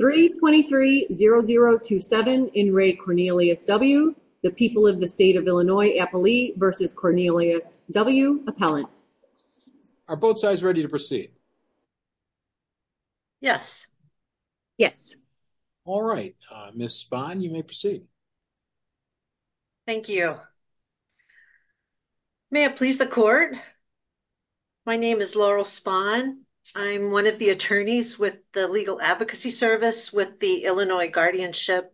323-0027, In re Cornelius W. The people of the state of Illinois, Appali versus Cornelius W, appellant. Are both sides ready to proceed? Yes. Yes. All right, Ms. Spahn, you may proceed. Thank you. May it please the court. My name is Laurel Spahn. I'm one of the attorneys with the Legal Advocacy Service with the Illinois Guardianship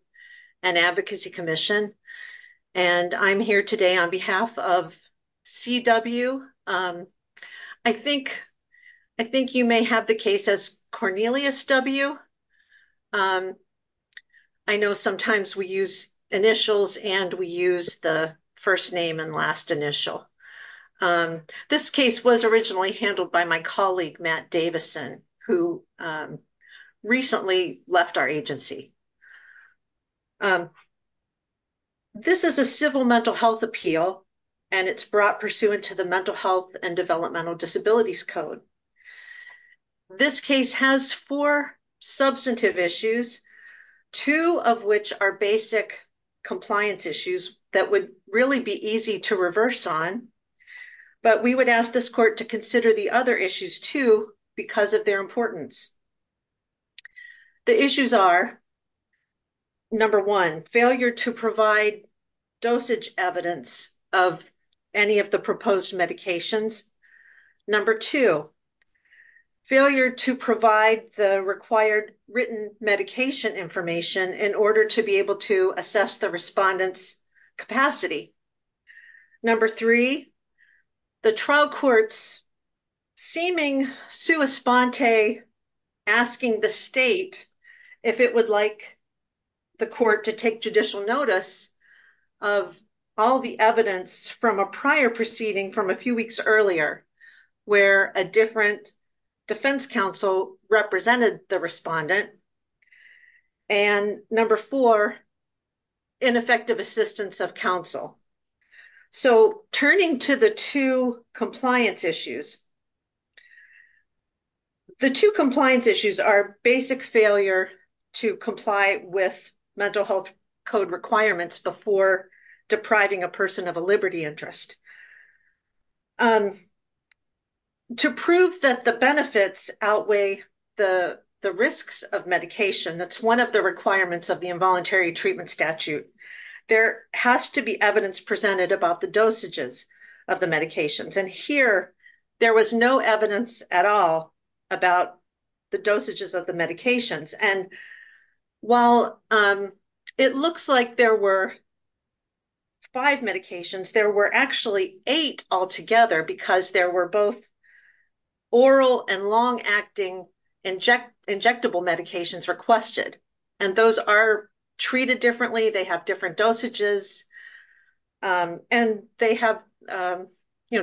and Advocacy Commission. And I'm here today on behalf of CW. I think you may have the case as Cornelius W. I know sometimes we use initials and we use the first name and last initial. This case was originally handled by my colleague Matt Davison who recently left our agency. This is a civil mental health appeal and it's brought pursuant to the Mental Health and Developmental Disabilities Code. This case has four substantive issues, two of which are basic compliance issues that would really be easy to reverse on. But we would ask this court to consider the other issues too because of their importance. The issues are number one, failure to provide dosage evidence of any of the proposed medications. Number two, failure to provide the required written medication information in order to be able to assess the respondent's capacity. Number three, the trial courts seeming sua sponte asking the state if it would like the court to take judicial notice of all the evidence from a prior proceeding from a few weeks earlier where a different defense counsel represented the respondent. And number four, ineffective assistance of counsel. So turning to the two compliance issues, the two compliance issues are basic failure to comply with mental health code requirements before depriving a person of a liberty interest. To prove that the benefits outweigh the risks of medication, that's one of the requirements of the involuntary treatment statute, there has to be evidence presented about the dosages of the medications. And here, there was no evidence at all about the dosages of the medications. And while it looks like there were five medications, there were actually eight altogether because there were both oral and long-acting injectable medications requested. And those are treated differently, they have different dosages, and they have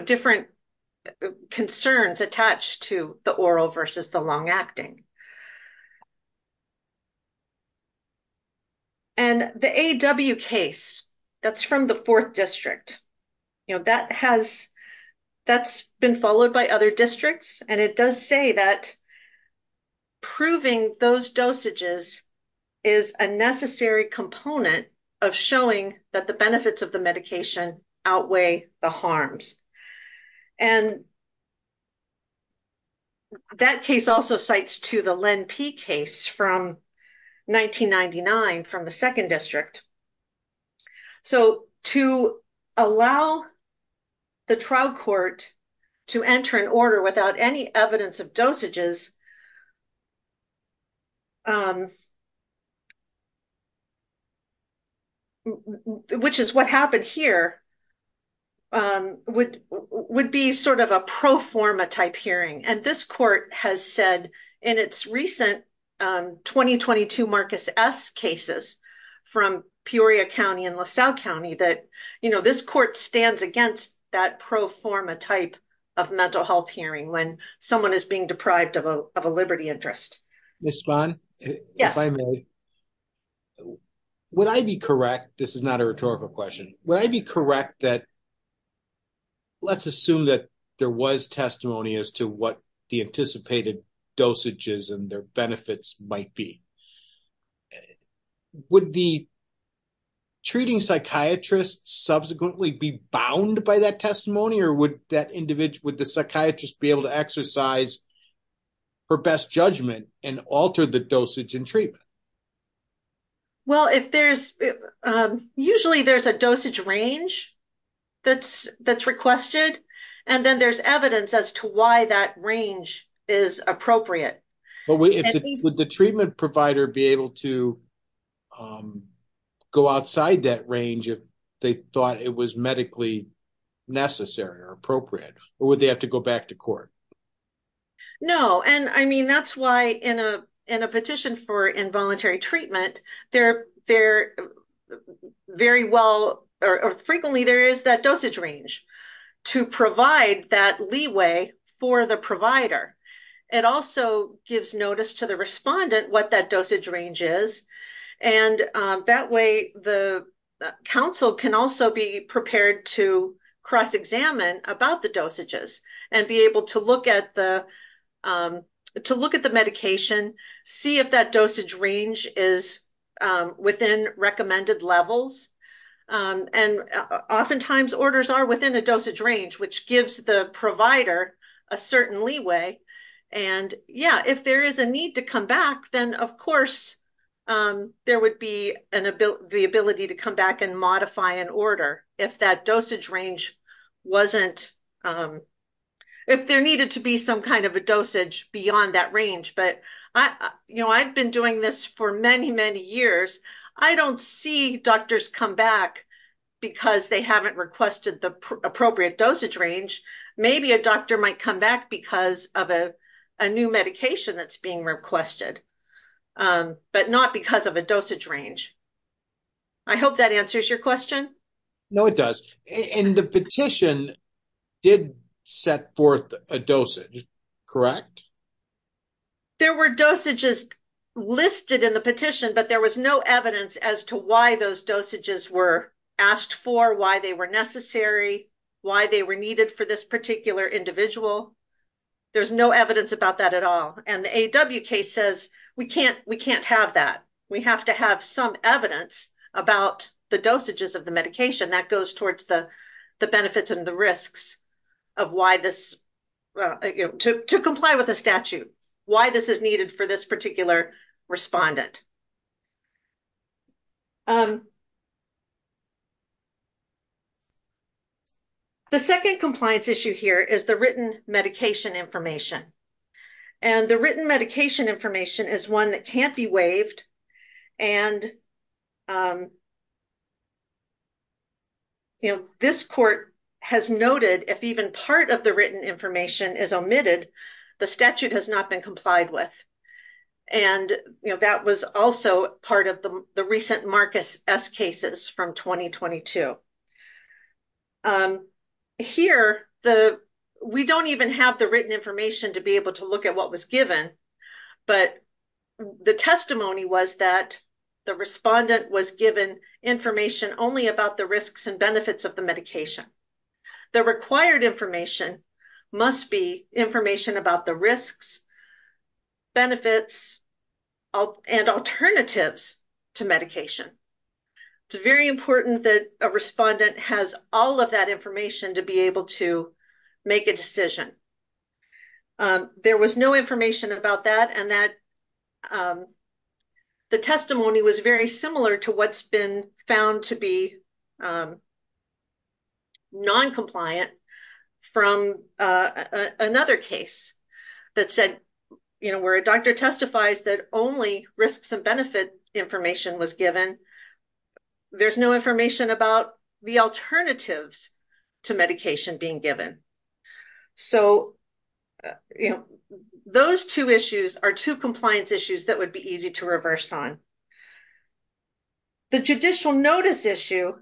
different concerns attached to the oral versus the long-acting. And the AW case, that's from the fourth district, you know, that's been followed by other districts, and it does say that proving those dosages is a necessary component of showing that the benefits of the medication outweigh the harms. And that case also cites to the Len P case from 1999 from the second district. So to allow the trial court to enter an order without any evidence of dosages, which is what happened here, would be sort of a pro-forma type hearing. And this court has said in its recent 2022 Marcus S cases from Peoria County and LaSalle County that, you know, this court stands against that pro-forma type of mental health hearing when someone is being deprived of a liberty interest. Ms. Spahn, if I may, would I be correct, this is not a rhetorical question, would I be correct that, let's assume that there was testimony as to what the anticipated dosages and their benefits might be, would the treating psychiatrist subsequently be bound by testimony, or would the psychiatrist be able to exercise her best judgment and alter the dosage and treatment? Well, usually there's a dosage range that's requested, and then there's evidence as to why that range is appropriate. But would the treatment provider be able to go outside that necessary or appropriate, or would they have to go back to court? No, and I mean that's why in a petition for involuntary treatment, they're very well, or frequently there is that dosage range to provide that leeway for the provider. It also gives notice to the respondent what that dosage range is, and that way the counsel can also be cross-examined about the dosages and be able to look at the medication, see if that dosage range is within recommended levels. And oftentimes orders are within a dosage range, which gives the provider a certain leeway. And yeah, if there is a need to come back, then of course there would be the ability to come back and modify an order if that dosage range wasn't, if there needed to be some kind of a dosage beyond that range. But I've been doing this for many, many years. I don't see doctors come back because they haven't requested the appropriate dosage range. Maybe a doctor might come back because of a new medication that's being requested, but not because of a dosage range. I hope that answers your question. No, it does. And the petition did set forth a dosage, correct? There were dosages listed in the petition, but there was no evidence as to why those dosages were asked for, why they were necessary, why they were needed for this particular individual. There's no evidence about that at all. And the AW case says we can't, we can't have that. We have to have some evidence about the dosages of the medication that goes towards the benefits and the risks of why this, to comply with the statute, why this is needed for this particular respondent. The second compliance issue here is the written medication information. And the written medication information is one that can't be waived. And this court has noted if even part of the written information is omitted, the statute has not been complied with. And, you know, that was also part of the recent Marcus S cases from 2022. Here, the, we don't even have the written information to be able to look at what was given, but the testimony was that the respondent was given information only about the risks and benefits of the medication. The required information must be information about the risks, benefits, and alternatives to medication. It's very important that a respondent has all of that information to be able to make a decision. There was no information about that and that the testimony was very similar to what's been found to be non-compliant from another case that said, you know, where a doctor testifies that only risks and benefit information was given. There's no information about the alternatives to medication being given. So, you know, those two issues are two compliance issues that would be easy to reverse on. The judicial notice issue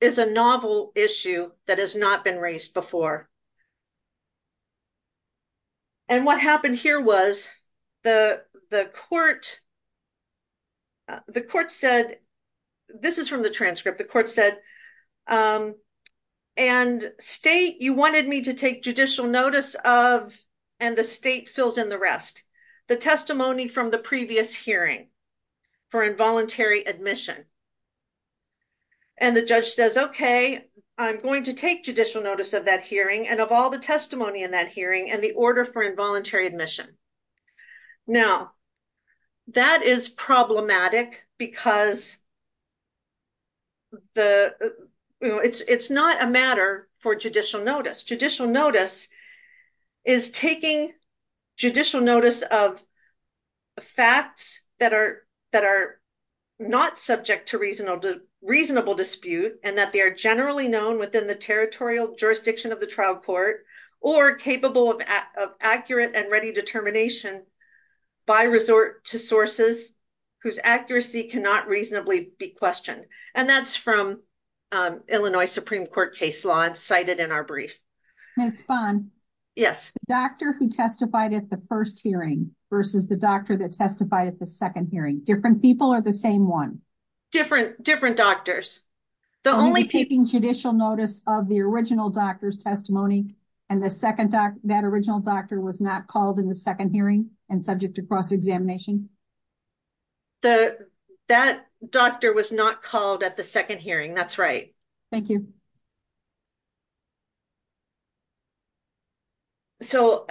is a novel issue that has not been raised before. And what happened here was the court said, this is from the transcript, the court said, and state, you wanted me to take judicial notice of, and the state fills in the rest. The testimony from the previous hearing for involuntary admission. And the judge says, okay, I'm going to take judicial notice of that hearing and of all the testimony in that hearing and the order for involuntary admission. Now, that is problematic because it's not a matter for judicial notice. Judicial notice is taking judicial notice of facts that are not subject to reasonable dispute and that they are generally known within the territorial jurisdiction of the trial court or capable of accurate and ready determination by resort to sources whose accuracy cannot reasonably be questioned. And that's from Illinois Supreme Court case law and cited in our brief. Ms. Spahn? Yes. The doctor who testified at the first hearing versus the doctor that testified at the second hearing, different people or the same one? Different, different doctors. The only people taking judicial notice of the original doctor's testimony and the second doc, that original doctor was not called in the second hearing and subject to cross-examination? That doctor was not called at the second hearing. That's right. Thank you. So,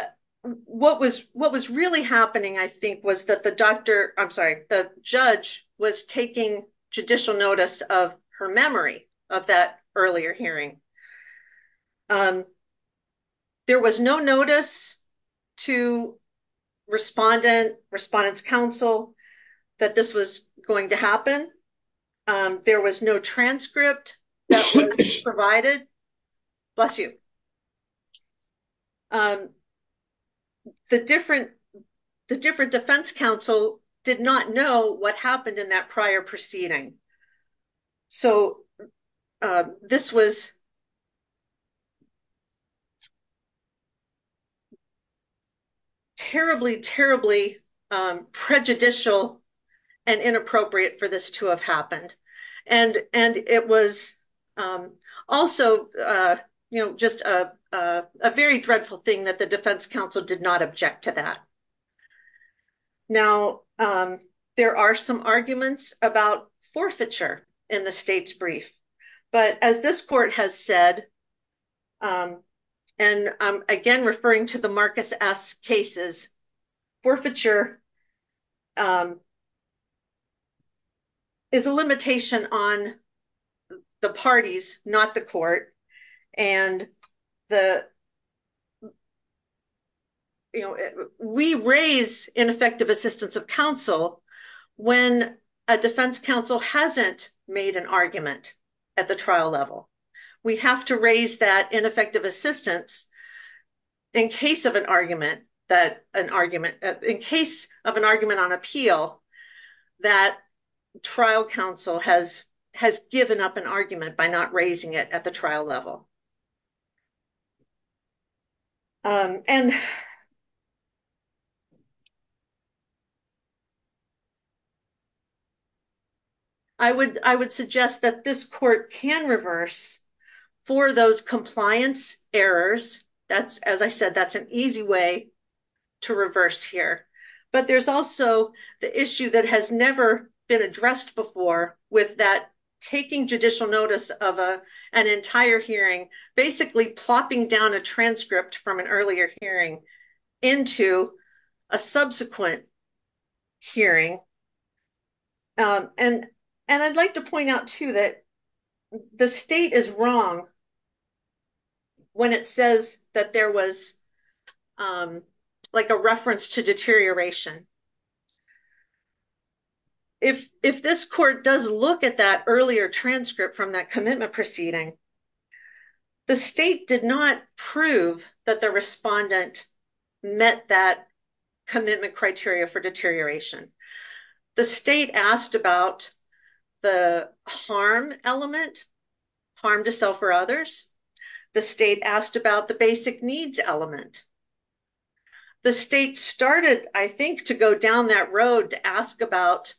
what was really happening, I think, was that the doctor, I'm sorry, the judge was taking judicial notice of her memory of that earlier hearing. There was no notice to respondent, respondent's counsel, that this was going to happen. There was no transcript that was provided. Bless you. The different defense counsel did not know what happened in that prior proceeding. So, this was terribly, terribly prejudicial and inappropriate for this to have happened. And it was also, you know, just a very dreadful thing that the defense counsel did not object to that. Now, there are some arguments about forfeiture in the state's said. And again, referring to the Marcus S. cases, forfeiture is a limitation on the parties, not the court. And the, you know, we raise ineffective assistance of counsel when a defense counsel hasn't made an argument at the trial level. We have to raise that ineffective assistance in case of an argument that an argument, in case of an argument on appeal that trial counsel has given up an argument by not raising it at the trial level. And I would, I would suggest that this court can reverse for those compliance errors. That's, as I said, that's an easy way to reverse here. But there's also the issue that has never been addressed before with that taking judicial notice of an entire hearing, basically plopping down a transcript from an earlier hearing into a subsequent hearing. And, and I'd like to point out too that the state is wrong when it says that there was like a reference to deterioration. If, if this court does look at that earlier transcript from that commitment proceeding, the state did not prove that the respondent met that commitment criteria for deterioration. The state asked about the harm element, harm to self or others. The state asked about the basic down that road to ask about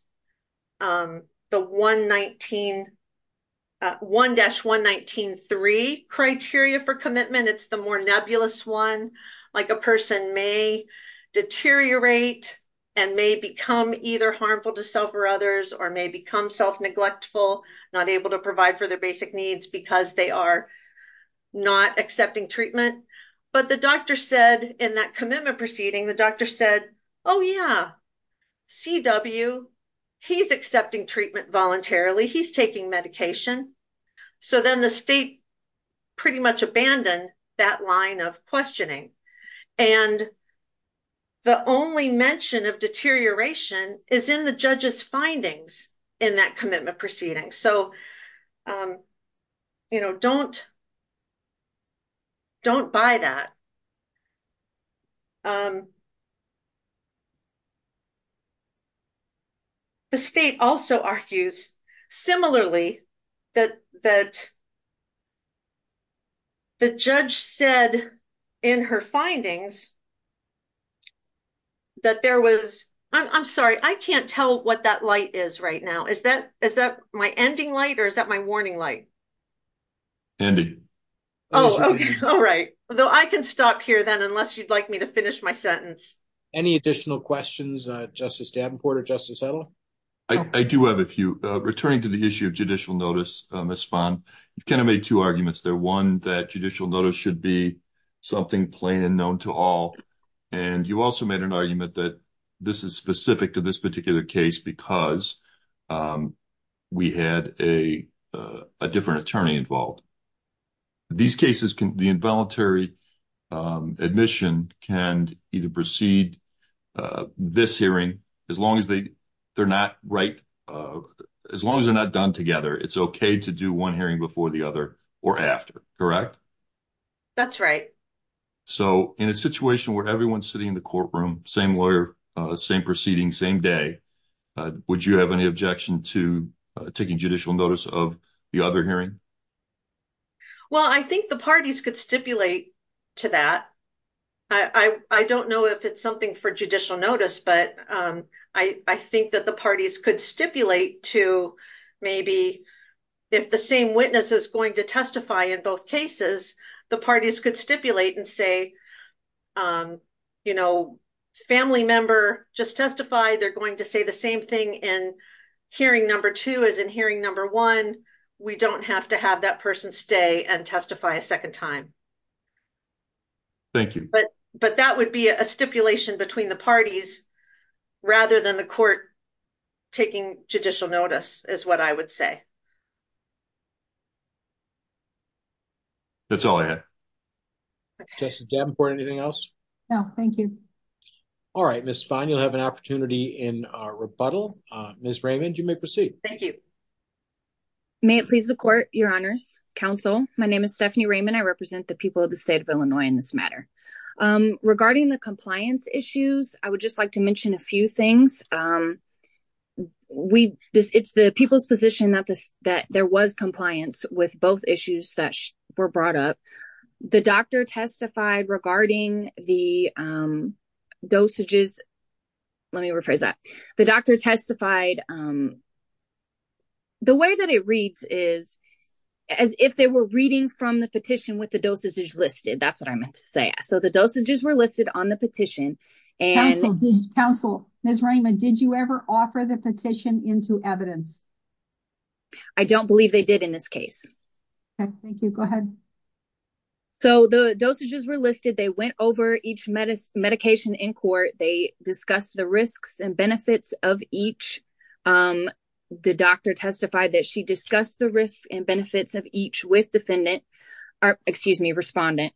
the 119, 1-119.3 criteria for commitment. It's the more nebulous one, like a person may deteriorate and may become either harmful to self or others, or may become self-neglectful, not able to provide for their basic needs because they are not accepting treatment. But the doctor said in that commitment proceeding, the doctor said, oh yeah, CW, he's accepting treatment voluntarily. He's taking medication. So then the state pretty much abandoned that line of questioning. And the only mention of deterioration is in the judge's findings in that commitment proceeding. So, you know, don't, don't buy that. The state also argues similarly that, that the judge said in her findings that there was, I'm sorry, I can't tell what that light is right now. Is that, is that my ending light or is that my warning light? Ending. Oh, okay. All right. Well, I can stop here then unless you'd like me to finish my sentence. Any additional questions, Justice Davenport or Justice Settle? I do have a few. Returning to the issue of judicial notice, Ms. Spahn, you kind of made two arguments there. One, that judicial notice should be something plain and known to all. And you also made an argument that this is specific to this particular case because we had a different attorney involved. These cases can, the involuntary admission can either proceed this hearing, as long as they, they're not right, as long as they're not done together, it's okay to do one hearing before the other or after. Correct? That's right. So in a situation where everyone's sitting in the courtroom, same lawyer, same proceeding, same day, would you have any objection to taking judicial notice of the other hearing? Well, I think the parties could stipulate to that. I don't know if it's something for judicial notice, but I think that the parties could stipulate to maybe if the same witness is going to testify in both cases, the parties could stipulate and say, you know, family member, just testify, they're going to say the same thing in hearing number two as in hearing number one. We don't have to have that person stay and testify a second time. Thank you. But, but that would be a stipulation between the parties rather than the court taking judicial notice is what I would say. Okay. That's all I had. Justice Davenport, anything else? No, thank you. All right, Ms. Spahn, you'll have an opportunity in rebuttal. Ms. Raymond, you may proceed. Thank you. May it please the court, your honors, counsel, my name is Stephanie Raymond. I represent the people of the state of Illinois in this matter. Regarding the compliance issues, I would just like to mention a few things. We, this, it's the people's position that this, that there was compliance with both issues that were brought up. The doctor testified regarding the dosages, let me rephrase that. The doctor testified, the way that it reads is as if they were reading from the petition with the dosage listed. That's what I meant to say. So the dosages were listed on the petition. Counsel, Ms. Raymond, did you ever offer the petition into evidence? I don't believe they did in this case. Okay, thank you. Go ahead. So the dosages were listed. They went over each medicine, medication in court. They discussed the risks and benefits of each. The doctor testified that she discussed the risks and benefits of each with defendant, or excuse me, respondent.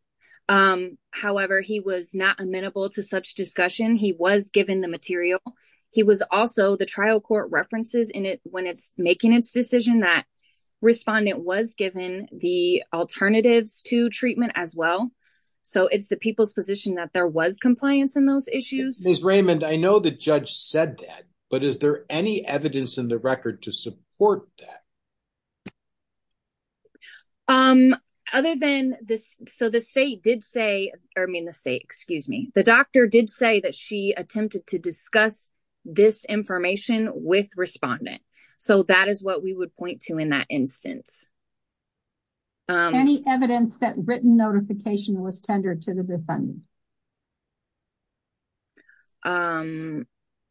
However, he was not amenable to such discussion. He was given the material. He was also, the trial court references in it when it's making its decision that respondent was given the alternatives to treatment as well. So it's the people's position that there was compliance in those issues. Ms. Raymond, I know the judge said that, but is there any evidence in the record to support that? Other than this, so the state did say, or I mean the state, excuse me, the doctor did say that she attempted to discuss this information with respondent. So that is what we would point to in that instance. Any evidence that written notification was tendered to the defendant?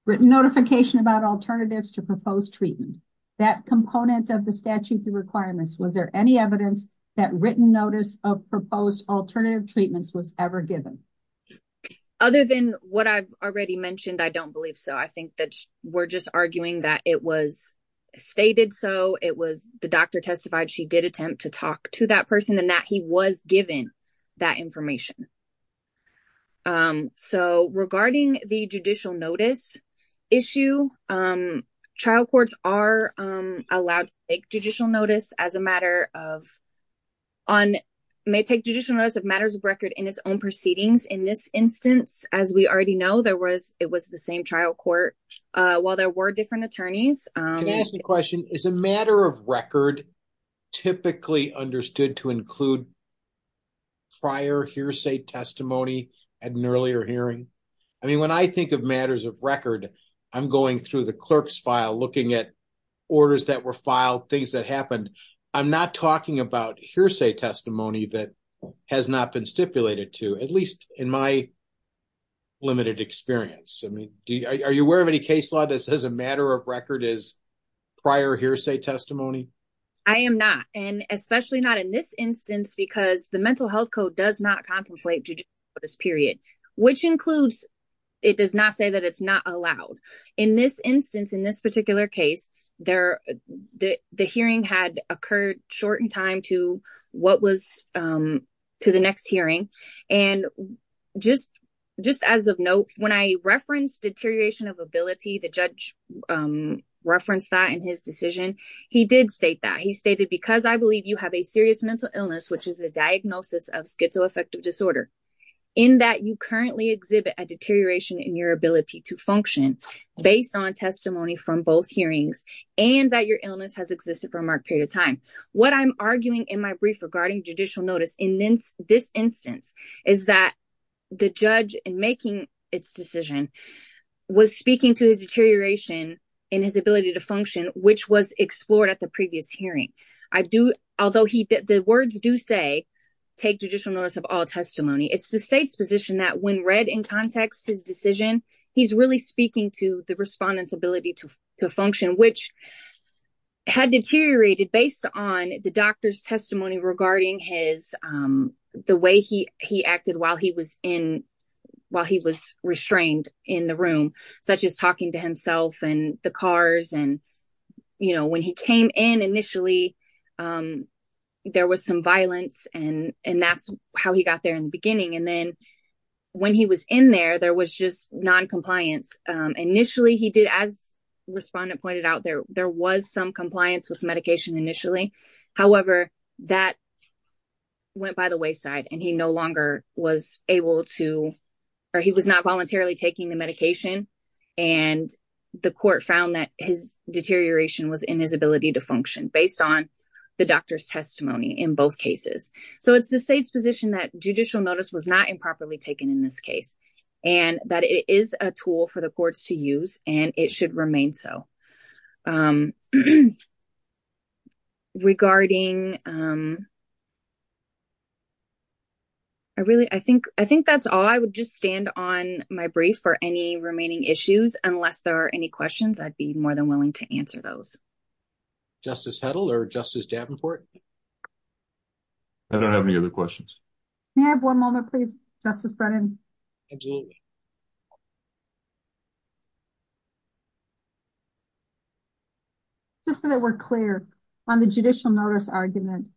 Written notification about alternatives to proposed treatment. That component of the statute requirements, was there any evidence that written notice of proposed alternative treatments was ever given? Other than what I've already mentioned, I don't believe so. I think that we're just arguing that it was stated so. It was the doctor testified she did attempt to talk to that person and that he was given that information. So regarding the judicial notice issue, trial courts are allowed to take judicial notice as a matter of, on, may take judicial notice of matters of record in its own proceedings. In this instance, as we already know, there was, it was the same trial court, while there were different attorneys. Can I ask a question? Is a matter of record typically understood to include prior hearsay testimony at an earlier hearing? I mean, when I think of matters of record, I'm going through the clerk's file looking at orders that were filed, things that happened. I'm not talking about hearsay testimony that has not been stipulated to, at least in my limited experience. I mean, are you aware of any case law that says a matter of record is prior hearsay testimony? I am not, and especially not in this instance, because the mental health code does not contemplate judicial notice period, which includes, it does not say that it's not allowed. In this particular case, the hearing had occurred short in time to what was, to the next hearing. And just as of note, when I referenced deterioration of ability, the judge referenced that in his decision. He did state that. He stated, because I believe you have a serious mental illness, which is a diagnosis of schizoaffective disorder, in that you currently exhibit a deterioration in ability to function based on testimony from both hearings and that your illness has existed for a marked period of time. What I'm arguing in my brief regarding judicial notice in this instance is that the judge in making its decision was speaking to his deterioration in his ability to function, which was explored at the previous hearing. I do, although the words do say, take judicial notice of all testimony. It's the state's position that when read in context, his decision, he's really speaking to the respondent's ability to function, which had deteriorated based on the doctor's testimony regarding his, the way he acted while he was in, while he was restrained in the room, such as talking to himself and the cars. And, you know, when he came in initially, there was some violence and that's how he got there in the non-compliance. Initially he did, as respondent pointed out, there was some compliance with medication initially. However, that went by the wayside and he no longer was able to, or he was not voluntarily taking the medication. And the court found that his deterioration was in his ability to function based on the doctor's testimony in both cases. So it's the state's that judicial notice was not improperly taken in this case and that it is a tool for the courts to use and it should remain so. Regarding, I really, I think that's all I would just stand on my brief for any remaining issues, unless there are any questions, I'd be more than willing to answer those. Justice Hedl or Justice Davenport. I don't have any other questions. May I have one moment, please? Justice Brennan. Just so that we're clear on the judicial notice argument,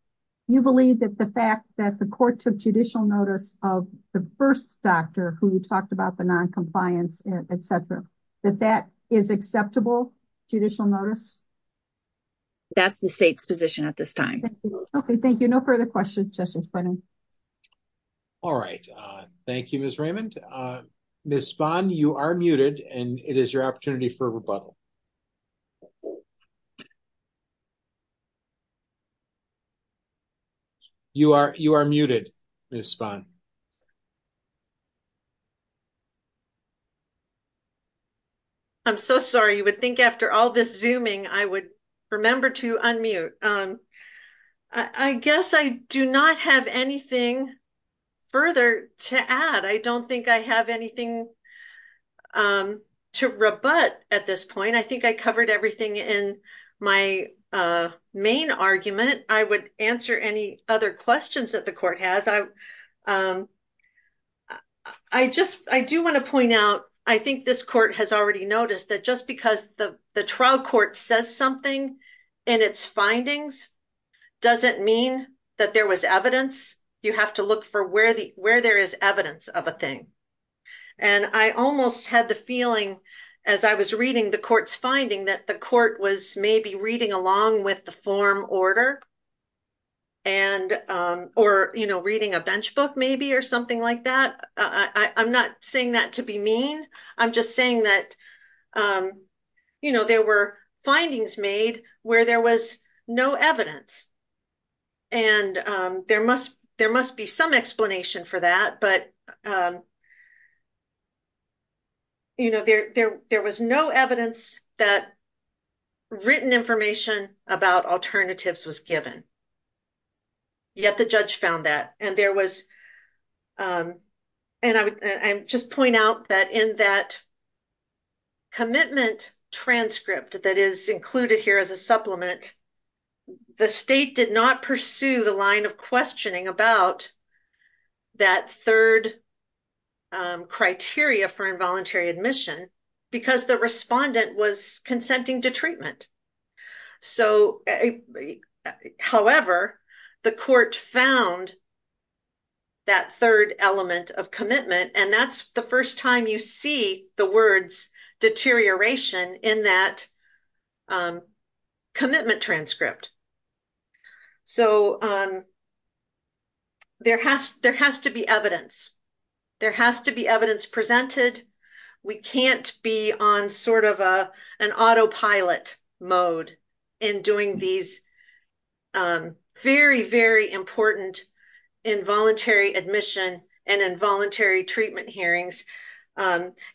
you believe that the fact that the court took judicial notice of the first doctor who talked about the non-compliance, et cetera, that that is acceptable judicial notice? That's the state's position at this time. Okay. Thank you. No further questions, Justice Brennan. All right. Thank you, Ms. Raymond. Ms. Spahn, you are muted and it is your opportunity for rebuttal. You are muted, Ms. Spahn. I'm so sorry. You would think after all this zooming, I would remember to unmute. I guess I do not have anything further to add. I don't think I have anything to rebut at this point. I think I covered everything in my main argument. I would answer any other questions that the court has. I do want to point out, I think this court has mean that there was evidence. You have to look for where there is evidence of a thing. I almost had the feeling as I was reading the court's finding that the court was maybe reading along with the form order or reading a bench book maybe or something like that. I'm not saying that to be mean. I'm just saying that there were findings made where there was no evidence. There must be some explanation for that, but there was no evidence that written information about alternatives was given, yet the judge found that. I would just point out that in that the state did not pursue the line of questioning about that third criteria for involuntary admission because the respondent was consenting to treatment. However, the court found that third element of commitment. That's the first time you see the words deterioration in that transcript. There has to be evidence. There has to be evidence presented. We can't be on sort of an autopilot mode in doing these very, very important involuntary admission and involuntary treatment hearings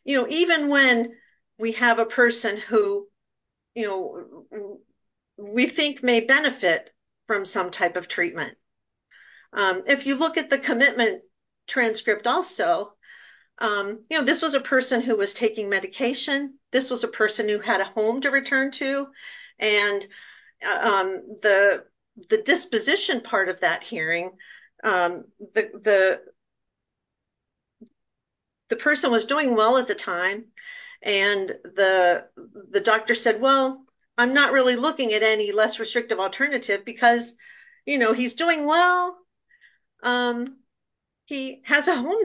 even when we have a person who we think may benefit from some type of treatment. If you look at the commitment transcript also, this was a person who was taking medication. This was a person who had a home to return to. The disposition part of that hearing, the person was doing well at the time. The doctor said, I'm not really looking at any less restrictive alternative because he's doing well. He has a home,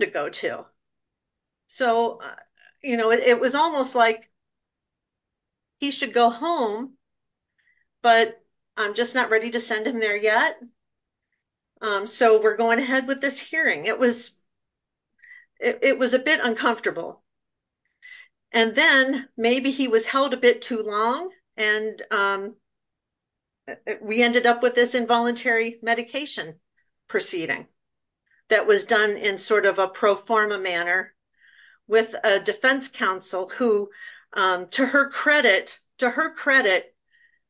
but I'm just not ready to send him there yet. We're going ahead with this hearing. It was a bit uncomfortable. Then maybe he was held a bit too long. We ended up with this involuntary medication proceeding that was done in sort of a pro forma manner with a defense counsel who, to her credit,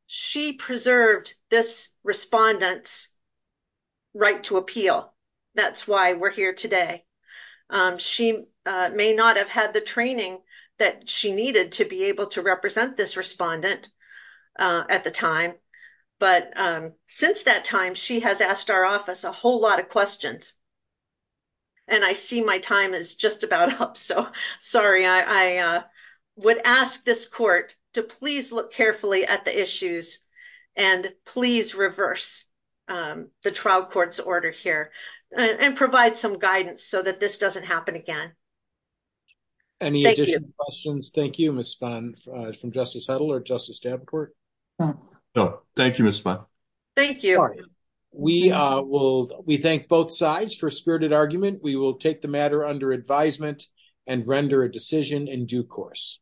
she preserved this respondent's right to appeal. That's why we're here today. She may not have had the training that she needed to be able to represent this respondent at the time. Since that time, she has asked our office a whole lot of questions. I see my time is just about up. Sorry. I would ask this court to please look carefully at the issues and please reverse the trial court's order here and provide some guidance so that this doesn't happen again. Thank you. Any additional questions? Thank you, Ms. Spahn from Justice for Spirited Argument. We will take the matter under advisement and render a decision in due course.